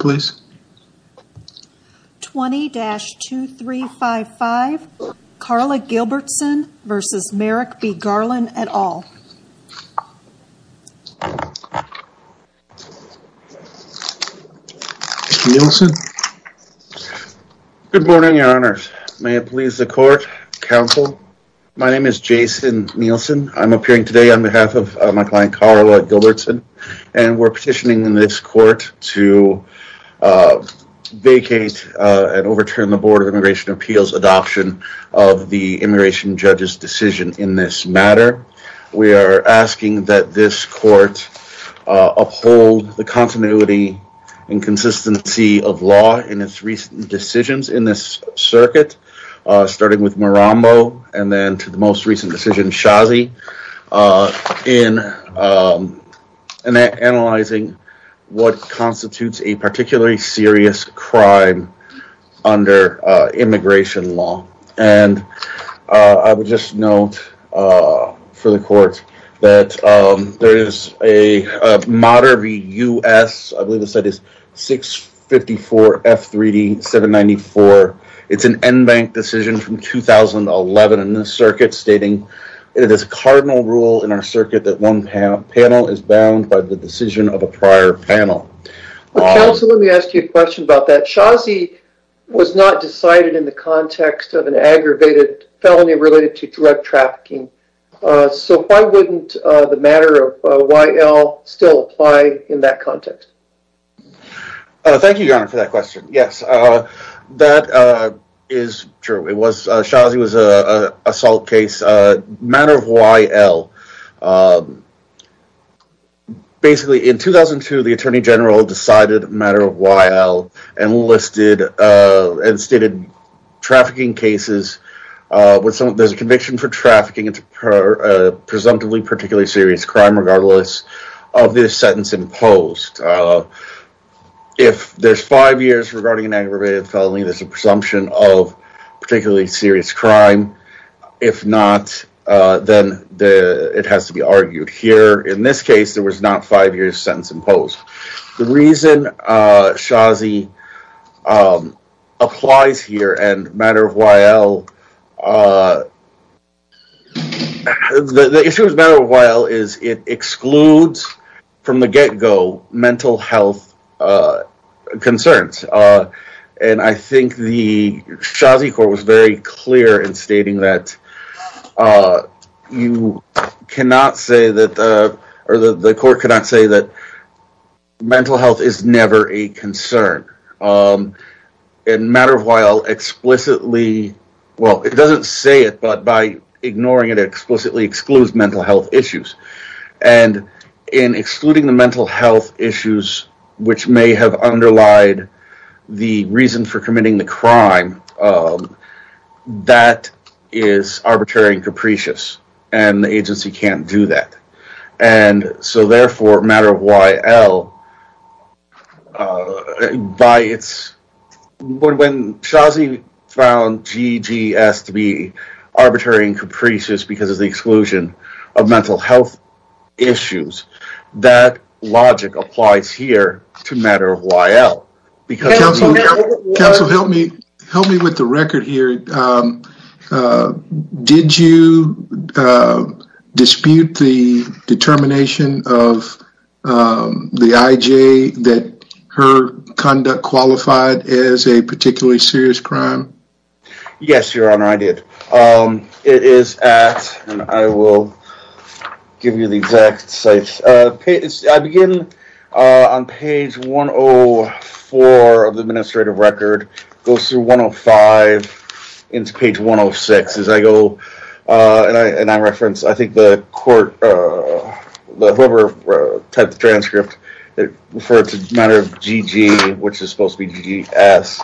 20-2355, Karla Gilbertson v. Merrick B. Garland, et al. Good morning, your honors. May it please the court, counsel. My name is Jason Nielsen. I'm appearing today on behalf of my client, Karla Gilbertson, and we're petitioning this court to vacate and overturn the Board of Immigration Appeals' adoption of the immigration judge's decision in this matter. We are asking that this court uphold the continuity and consistency of law in its recent decisions in this circuit, starting with Marambo and then to the most recent decision, Shazi, in analyzing what constitutes a particularly serious crime under immigration law. And I would just note for the court that there is a moderate v. U.S. I believe it said it's 654 F3D 794. It's an NBANC decision from 2011 in this circuit stating it is a cardinal rule in our circuit that one panel is bound by the decision of a prior panel. Counsel, let me ask you a question about that. Shazi was not decided in the context of an aggravated felony related to drug trafficking. So why wouldn't the matter of Y.L. still apply in that context? Thank you, Your Honor, for that question. Yes, that is true. Shazi was an assault case. Matter of Y.L., basically in 2002 the Attorney General decided a matter of Y.L. and listed and stated trafficking cases, there's a conviction for trafficking into presumptively particularly serious crime regardless of the sentence imposed. If there's five years regarding an aggravated felony, there's a presumption of particularly serious crime. If not, then it has to be argued here. In this case, there was not five years sentence imposed. The reason Shazi applies here and matter of Y.L., the issue of matter of Y.L. is it excludes from the get-go mental health concerns. And I think the Shazi court was very clear in stating that you cannot say that, or the court cannot say that mental health is never a concern. In matter of Y.L., explicitly, well, it doesn't say it, but by ignoring it explicitly excludes mental health issues. And in excluding the mental health issues which may have underlied the reason for committing the crime, that is arbitrary and capricious and the agency can't do that. And so therefore, matter of Y.L., by its, when Shazi found GGS to be arbitrary and capricious because of the exclusion of mental health issues, that logic applies here to matter of Y.L. Counsel, help me with the record here. Did you dispute the determination of the I.J. that her conduct qualified as a particularly serious crime? Yes, Your Honor, I did. It is at, and I will give you the exact sites. I begin on page 104 of the administrative record, goes through 105 into page 106 as I go, and I reference, I think the court, whoever typed the transcript, referred to matter of GG, which is supposed to be GGS,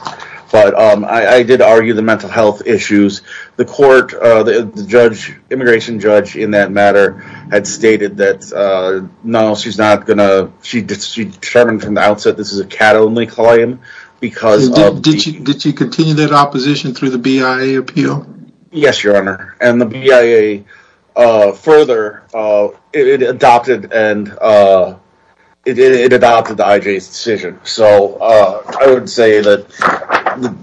but I did argue the mental health issues. The court, the judge, immigration judge in that matter, had stated that no, she's not going to, she determined from the outset this is a cat-only claim because of... Did she continue that opposition through the BIA appeal? Yes, Your Honor, and the BIA further, it adopted the I.J.'s decision, so I would say that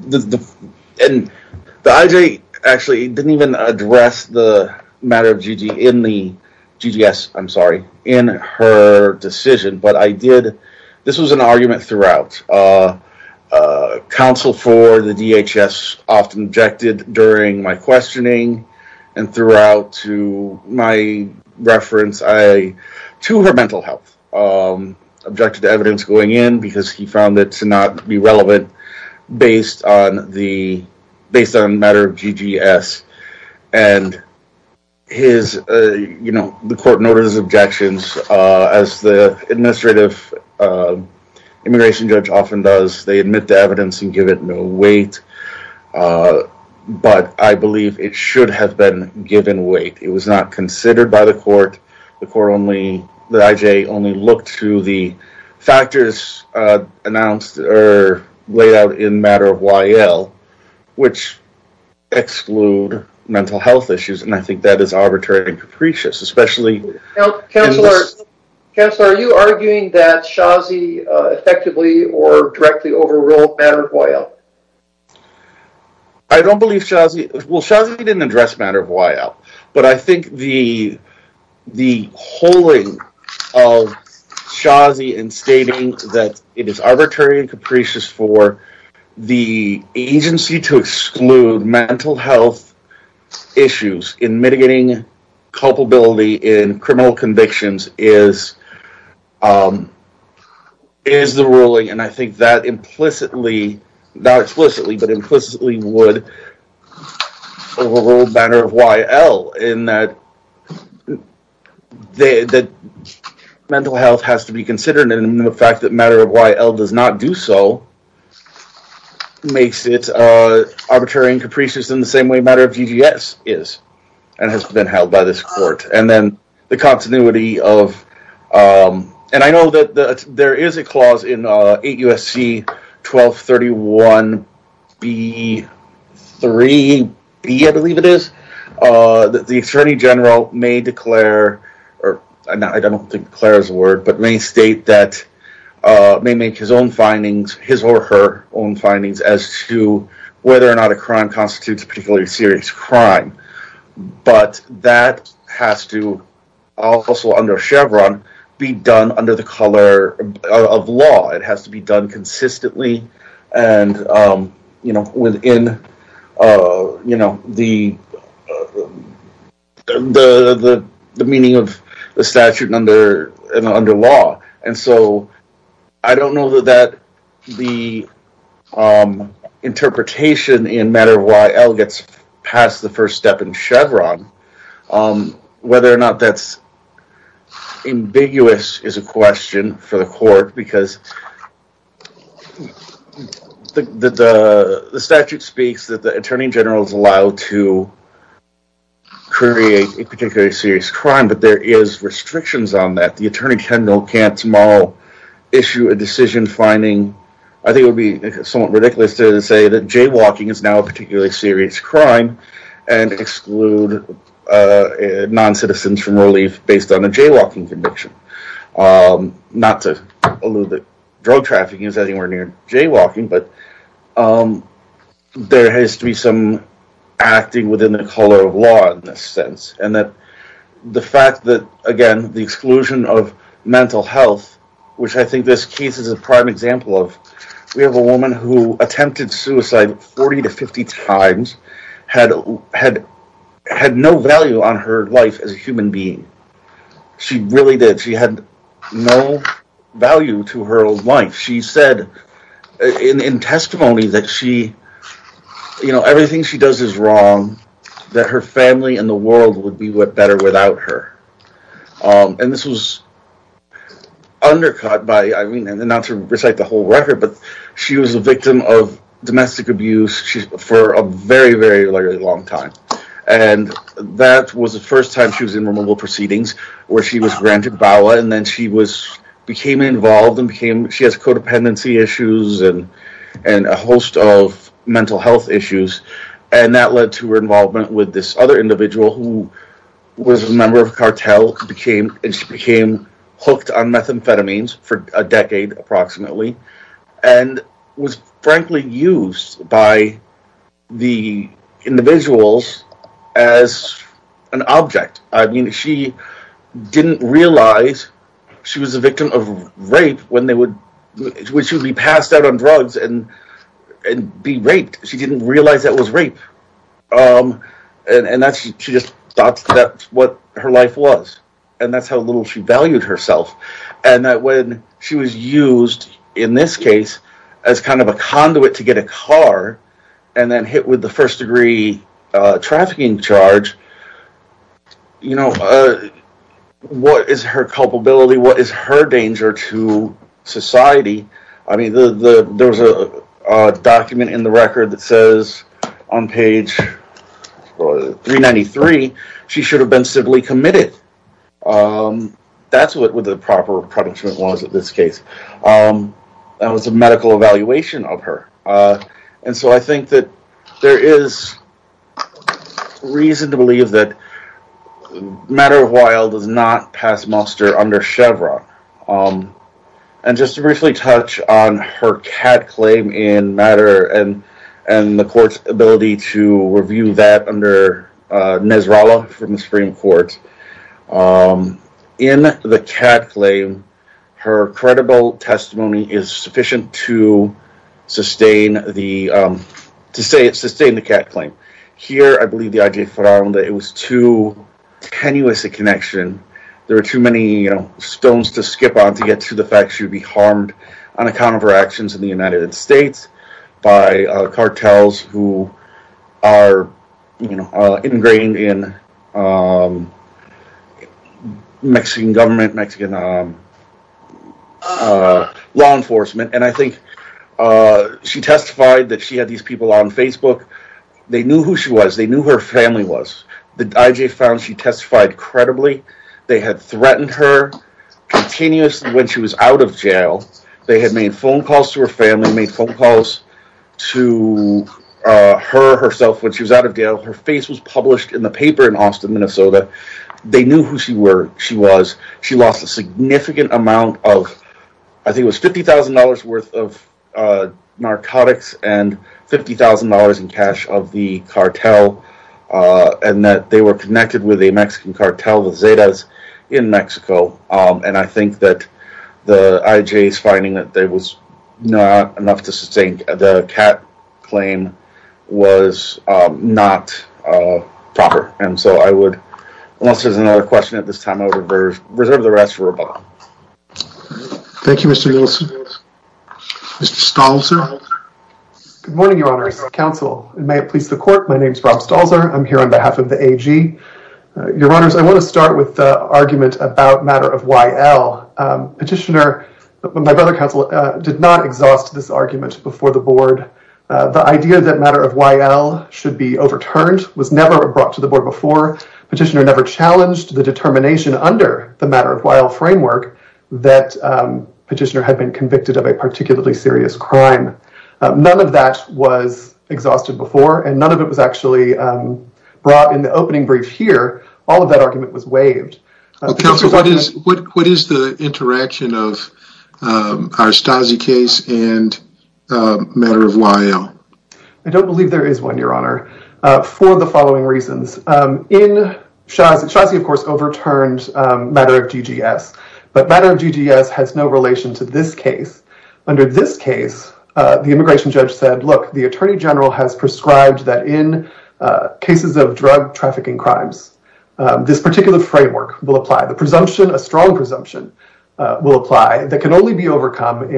the I.J. actually didn't even address the matter of GG in the GGS, I'm sorry, in her decision, but I did, this was an argument throughout. Counsel for the DHS often objected during my questioning and throughout to my reference to her mental health, objected to evidence going in because he found it to not be relevant based on the matter of GGS, and his, you know, the court noted his objections as the administrative immigration judge often does, they admit to evidence and give it no weight, but I believe it should have been given weight. It was not considered by the court, the court only, the I.J. only looked to the factors announced or laid out in matter of YL, which exclude mental health issues, and I think that is arbitrary and capricious, especially... I don't believe Shazi, well, Shazi didn't address matter of YL, but I think the holding of Shazi in stating that it is arbitrary and capricious for the agency to exclude mental health issues in mitigating culpability in criminal convictions is the ruling, and I think that implicitly, not explicitly, but implicitly would rule matter of YL in that mental health has to be considered, and the fact that matter of YL does not do so makes it arbitrary and capricious in the same way matter of GGS is, and has been held by this 1231B3B, I believe it is, the attorney general may declare, I don't think declare is a word, but may state that, may make his own findings, his or her own findings as to whether or not a crime constitutes a particularly serious crime, but that has to also under Chevron be done under the color of law, it has to be done consistently and within the meaning of the statute under law, and so I don't know that the interpretation in matter of YL gets past the first step in Chevron, whether or not that's ambiguous is a question for the court, because the statute speaks that the attorney general is allowed to create a particularly serious crime, but there is restrictions on that, the attorney general can't tomorrow issue a decision finding, I think it would be somewhat ridiculous to say that jaywalking is now a particularly serious crime and exclude non-citizens from relief based on a jaywalking conviction, not to allude that drug trafficking is anywhere near jaywalking, but there has to be some acting within the color of law in this sense, and the fact that, again, the exclusion of mental health, which I think this case is a prime example of, we have a had no value on her life as a human being, she really did, she had no value to her own life, she said in testimony that everything she does is wrong, that her family and the world would be better without her, and this was undercut by, not to recite the whole record, but she was a victim of domestic abuse for a very, very long time, and that was the first time she was in removal proceedings, where she was granted VAWA, and then she became involved, she has codependency issues, and a host of mental health issues, and that led to her involvement with this other individual who was a member of a cartel, and she became hooked on methamphetamines for a decade, approximately, and was frankly used by the individuals as an object, I mean, she didn't realize she was a victim of rape when they would, when she would be passed out on drugs and be raped, she didn't realize that was and that when she was used, in this case, as kind of a conduit to get a car, and then hit with the first degree trafficking charge, you know, what is her culpability, what is her danger to society, I mean, there was a document in the record that says on page 393, she should have been civilly committed, that's what the proper punishment was in this case, that was a medical evaluation of her, and so I think that there is reason to believe that Matter of Wild does not pass muster under Chevron, and just to briefly touch on her Supreme Court, in the Kat claim, her credible testimony is sufficient to sustain the Kat claim. Here, I believe the idea that it was too tenuous a connection, there were too many stones to skip on to get to the fact she would be harmed on account of her actions in the United States by cartels who are ingrained in Mexican government, Mexican law enforcement, and I think she testified that she had these people on Facebook, they knew who she was, they knew who her family was, the IJ found she testified credibly, they had threatened her continuously when she was out of jail, they had made phone calls to her family, made phone calls to her herself when she was out of jail, her face was published in the paper in Austin, Minnesota, they knew who she was, she lost a significant amount of, I think it was $50,000 worth of narcotics and $50,000 in cash of the cartel, and that they were connected with the Mexican cartel, the Zetas in Mexico, and I think that the IJ's finding that there was not enough to sustain the Kat claim was not proper. And so I would, unless there's another question at this time, I would reserve the rest for Robb. Thank you, Mr. Wilson. Mr. Stalzer. Good morning, Your Honors, counsel, and may it please the court, my name is Robb Stalzer, I'm here on behalf of the AG. Your Honors, I want to start with the argument about matter of YL. Petitioner, my brother counsel, did not exhaust this argument before the board. The idea that matter of YL should be overturned was never brought to the board before, petitioner never challenged the determination under the matter of YL framework that petitioner had been convicted of a particularly serious crime. None of that was exhausted before, and none of it was actually brought in the opening brief here, all of that argument was waived. Counsel, what is the interaction of our Stasi case and matter of YL? I don't believe there is one, Your Honor, for the following reasons. In Shazi, of course, overturned matter of GGS, but matter of GGS has no relation to this case. Under this case, the immigration judge said, look, the attorney general has prescribed that in cases of drug trafficking crimes, this particular framework will apply. The presumption, a strong presumption, will apply that can only be overcome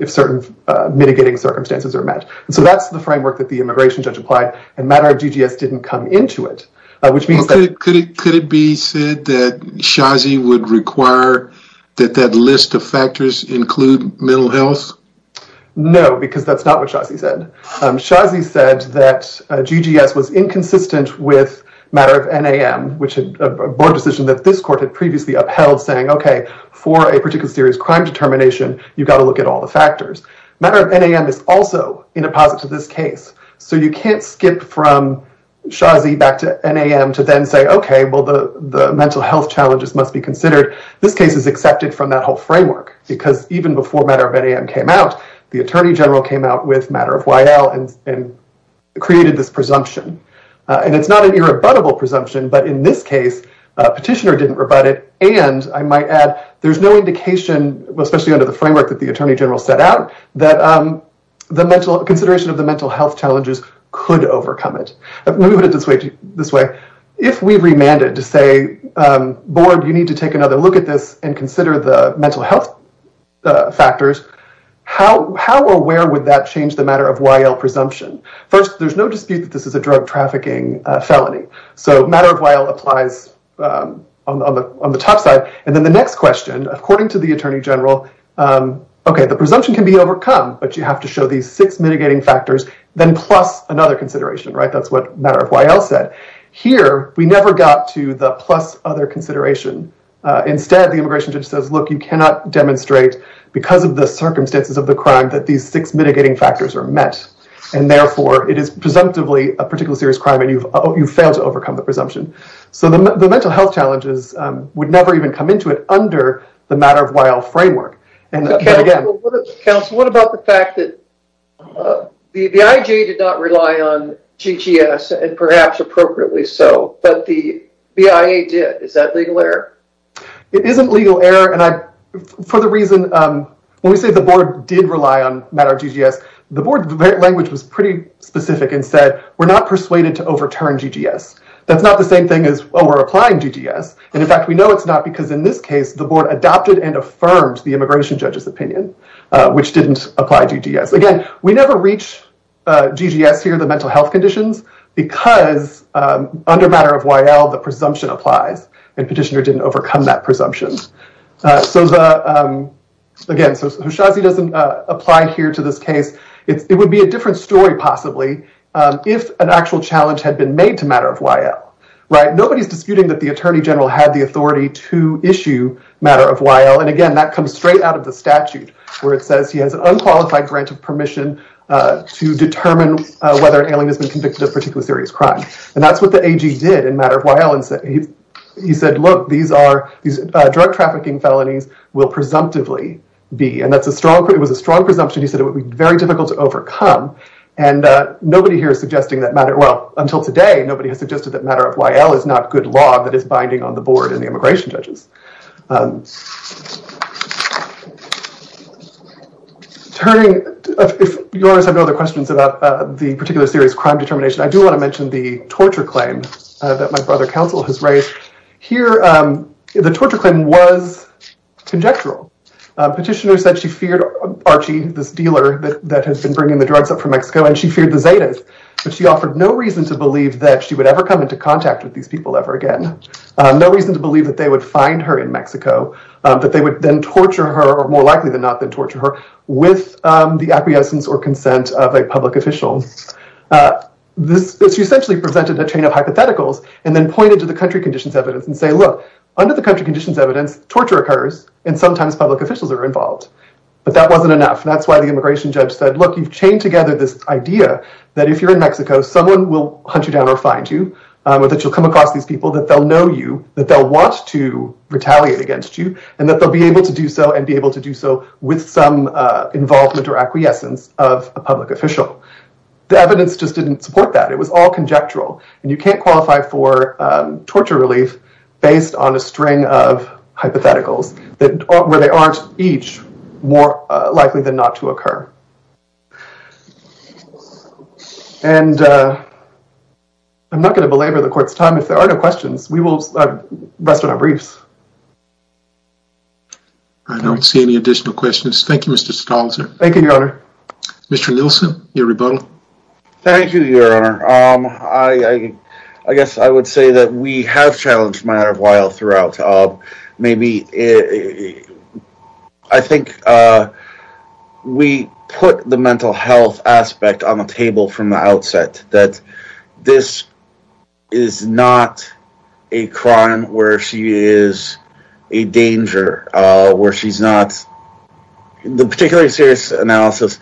if certain mitigating circumstances are met. So that's the framework that the immigration judge applied, and matter of GGS didn't come into it. Could it be said that Shazi would require that that list of factors include mental health? No, because that's not what Shazi said. Shazi said that GGS was inconsistent with matter of NAM, which is a board decision that this court had previously upheld, saying, okay, for a particular serious crime determination, you've got to look at all the factors. Matter of NAM is also in a posit to this case. So you can't skip from Shazi back to NAM to then say, okay, well, the mental health challenges must be considered. This case is accepted from that whole framework, because even before matter of NAM came out, the attorney general came out with matter of YL and created this presumption. And it's not an irrebuttable presumption, but in this case, petitioner didn't rebut it. And I might add, there's no indication, especially under the framework that the attorney general set out, that consideration of the mental health challenges could overcome it. Let me put it this way. If we remanded to say, board, you need to take another look at this and consider the mental health factors, how or where would that change the matter of YL presumption? First, there's no dispute that this is a drug trafficking felony. So matter of YL applies on the top side. And then the next question, according to the attorney general, okay, the presumption can be overcome, but you have to show these six mitigating factors, then plus another consideration, right? That's what matter of YL said. Here, we never got to the plus other consideration. Instead, the immigration judge says, look, you cannot demonstrate because of the circumstances of the crime that these six mitigating factors are met. And therefore, it is presumptively a particular serious crime and you've failed to overcome the presumption. So the mental health challenges would never even come into it under the matter of YL framework. Counsel, what about the fact that the IJ did not rely on GGS and perhaps appropriately so, but the BIA did. Is that legal error? It isn't legal error. And for the reason, when we say the board did rely on matter of GGS, the board language was pretty specific and said, we're not persuaded to overturn GGS. That's not the same thing as, oh, we're applying GGS. And in fact, we know it's not because in this case, the board adopted and affirmed the immigration judge's opinion, which didn't apply GGS. Again, we never reach GGS here, the mental health conditions, because under matter of YL, the presumption applies and petitioner didn't overcome that presumption. So again, so Houshazi doesn't apply here to this case. It would be a different story, possibly, if an actual challenge had been made to matter of YL. Nobody's disputing that the attorney general had the authority to issue matter of YL. And again, that comes straight out of the statute, where it says he has an unqualified grant of permission to determine whether an alien has been convicted of a particular serious crime. And that's what the AG did in matter of YL. He said, look, these drug trafficking felonies will presumptively be, and it was a strong presumption. He said it would be very difficult to overcome. And nobody here is suggesting that matter, well, until today, nobody has suggested that matter of YL is not good law that is binding on the board and the immigration judges. Turning, if yours have no other questions about the particular serious crime determination, I do want to mention the torture claim that my brother counsel has raised. Here, the torture claim was conjectural. Petitioner said she feared Archie, this dealer that has been bringing the drugs up from Mexico, and she feared the Zetas. But she offered no reason to believe that she would ever come into contact with these people ever again. No reason to believe that they would find her in Mexico, that they would then torture her, or more likely than not then torture her, with the acquiescence or consent of a public official. She essentially presented a chain of hypotheticals and then pointed to the country conditions evidence and said, look, under the country conditions evidence, torture occurs, and sometimes public officials are involved. But that wasn't enough. That's why the immigration judge said, look, you've chained together this idea that if you're in Mexico, someone will hunt you down or find you, or that you'll come across these people, that they'll know you, that they'll want to retaliate against you, and that they'll be able to do so and be able to do so with some involvement or acquiescence of a public official. The evidence just didn't support that. It was all conjectural. And you can't qualify for torture relief based on a string of hypotheticals where they aren't each more likely than not to occur. And I'm not going to belabor the court's time. If there are no questions, we will rest on our briefs. I don't see any additional questions. Thank you, Mr. Stolzer. Thank you, Your Honor. Mr. Nielsen, your rebuttal. Thank you, Your Honor. I guess I would say that we have challenged Myra Weil throughout. Maybe I think we put the mental health aspect on the table from the outset, that this is not a crime where she is a danger, where she's not. The particularly serious analysis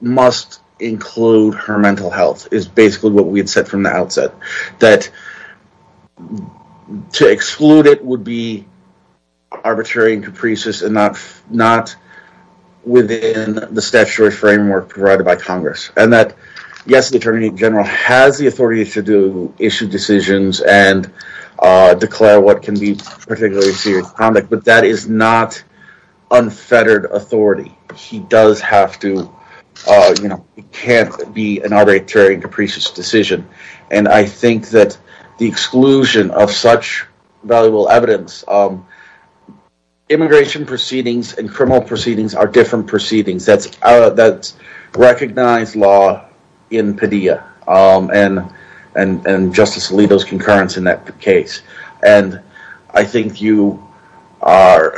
must include her mental health, is basically what we had said from the outset, that to exclude it would be arbitrary and capricious and not within the statutory framework provided by Congress, and that, yes, the Attorney General has the authority to issue decisions and declare what can be particularly serious conduct, but that is not unfettered authority. He does have to, you know, it can't be an arbitrary and capricious decision. And I think that the exclusion of such valuable evidence, immigration proceedings and criminal proceedings are different proceedings. That's recognized law in Padilla and Justice Alito's concurrence in that case. And I think you are,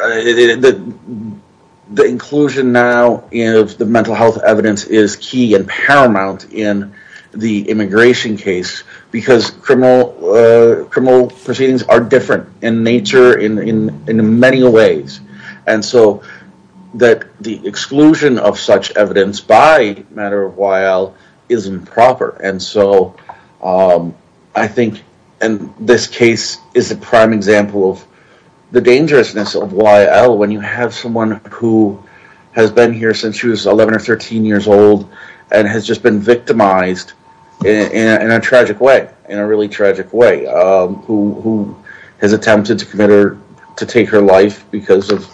the inclusion now of the mental health evidence is key and paramount in the immigration case because criminal proceedings are different in nature in many ways. And so that the exclusion of such evidence by Myra Weil is improper. And so I think this case is a prime example of the dangerousness of Weil when you have someone who has been here since she was 11 or 13 years old and has just been victimized in a tragic way, in a really tragic way, who has attempted to take her life because of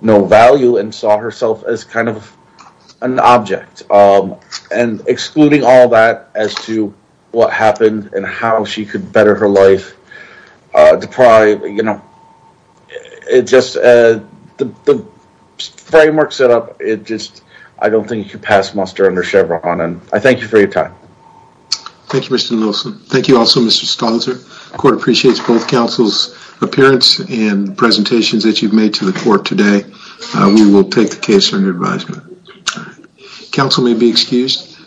no value and saw herself as kind of an object. And excluding all that as to what happened and how she could better her life, deprived, you know, it just, the framework set up, it just, I don't think you could pass muster under Chevron. And I thank you for your time. Thank you, Mr. Nelson. Thank you also, Mr. Stolzer. The court appreciates both counsel's appearance and presentations that you've made to the court today. We will take the case under advisement. Counsel may be excused.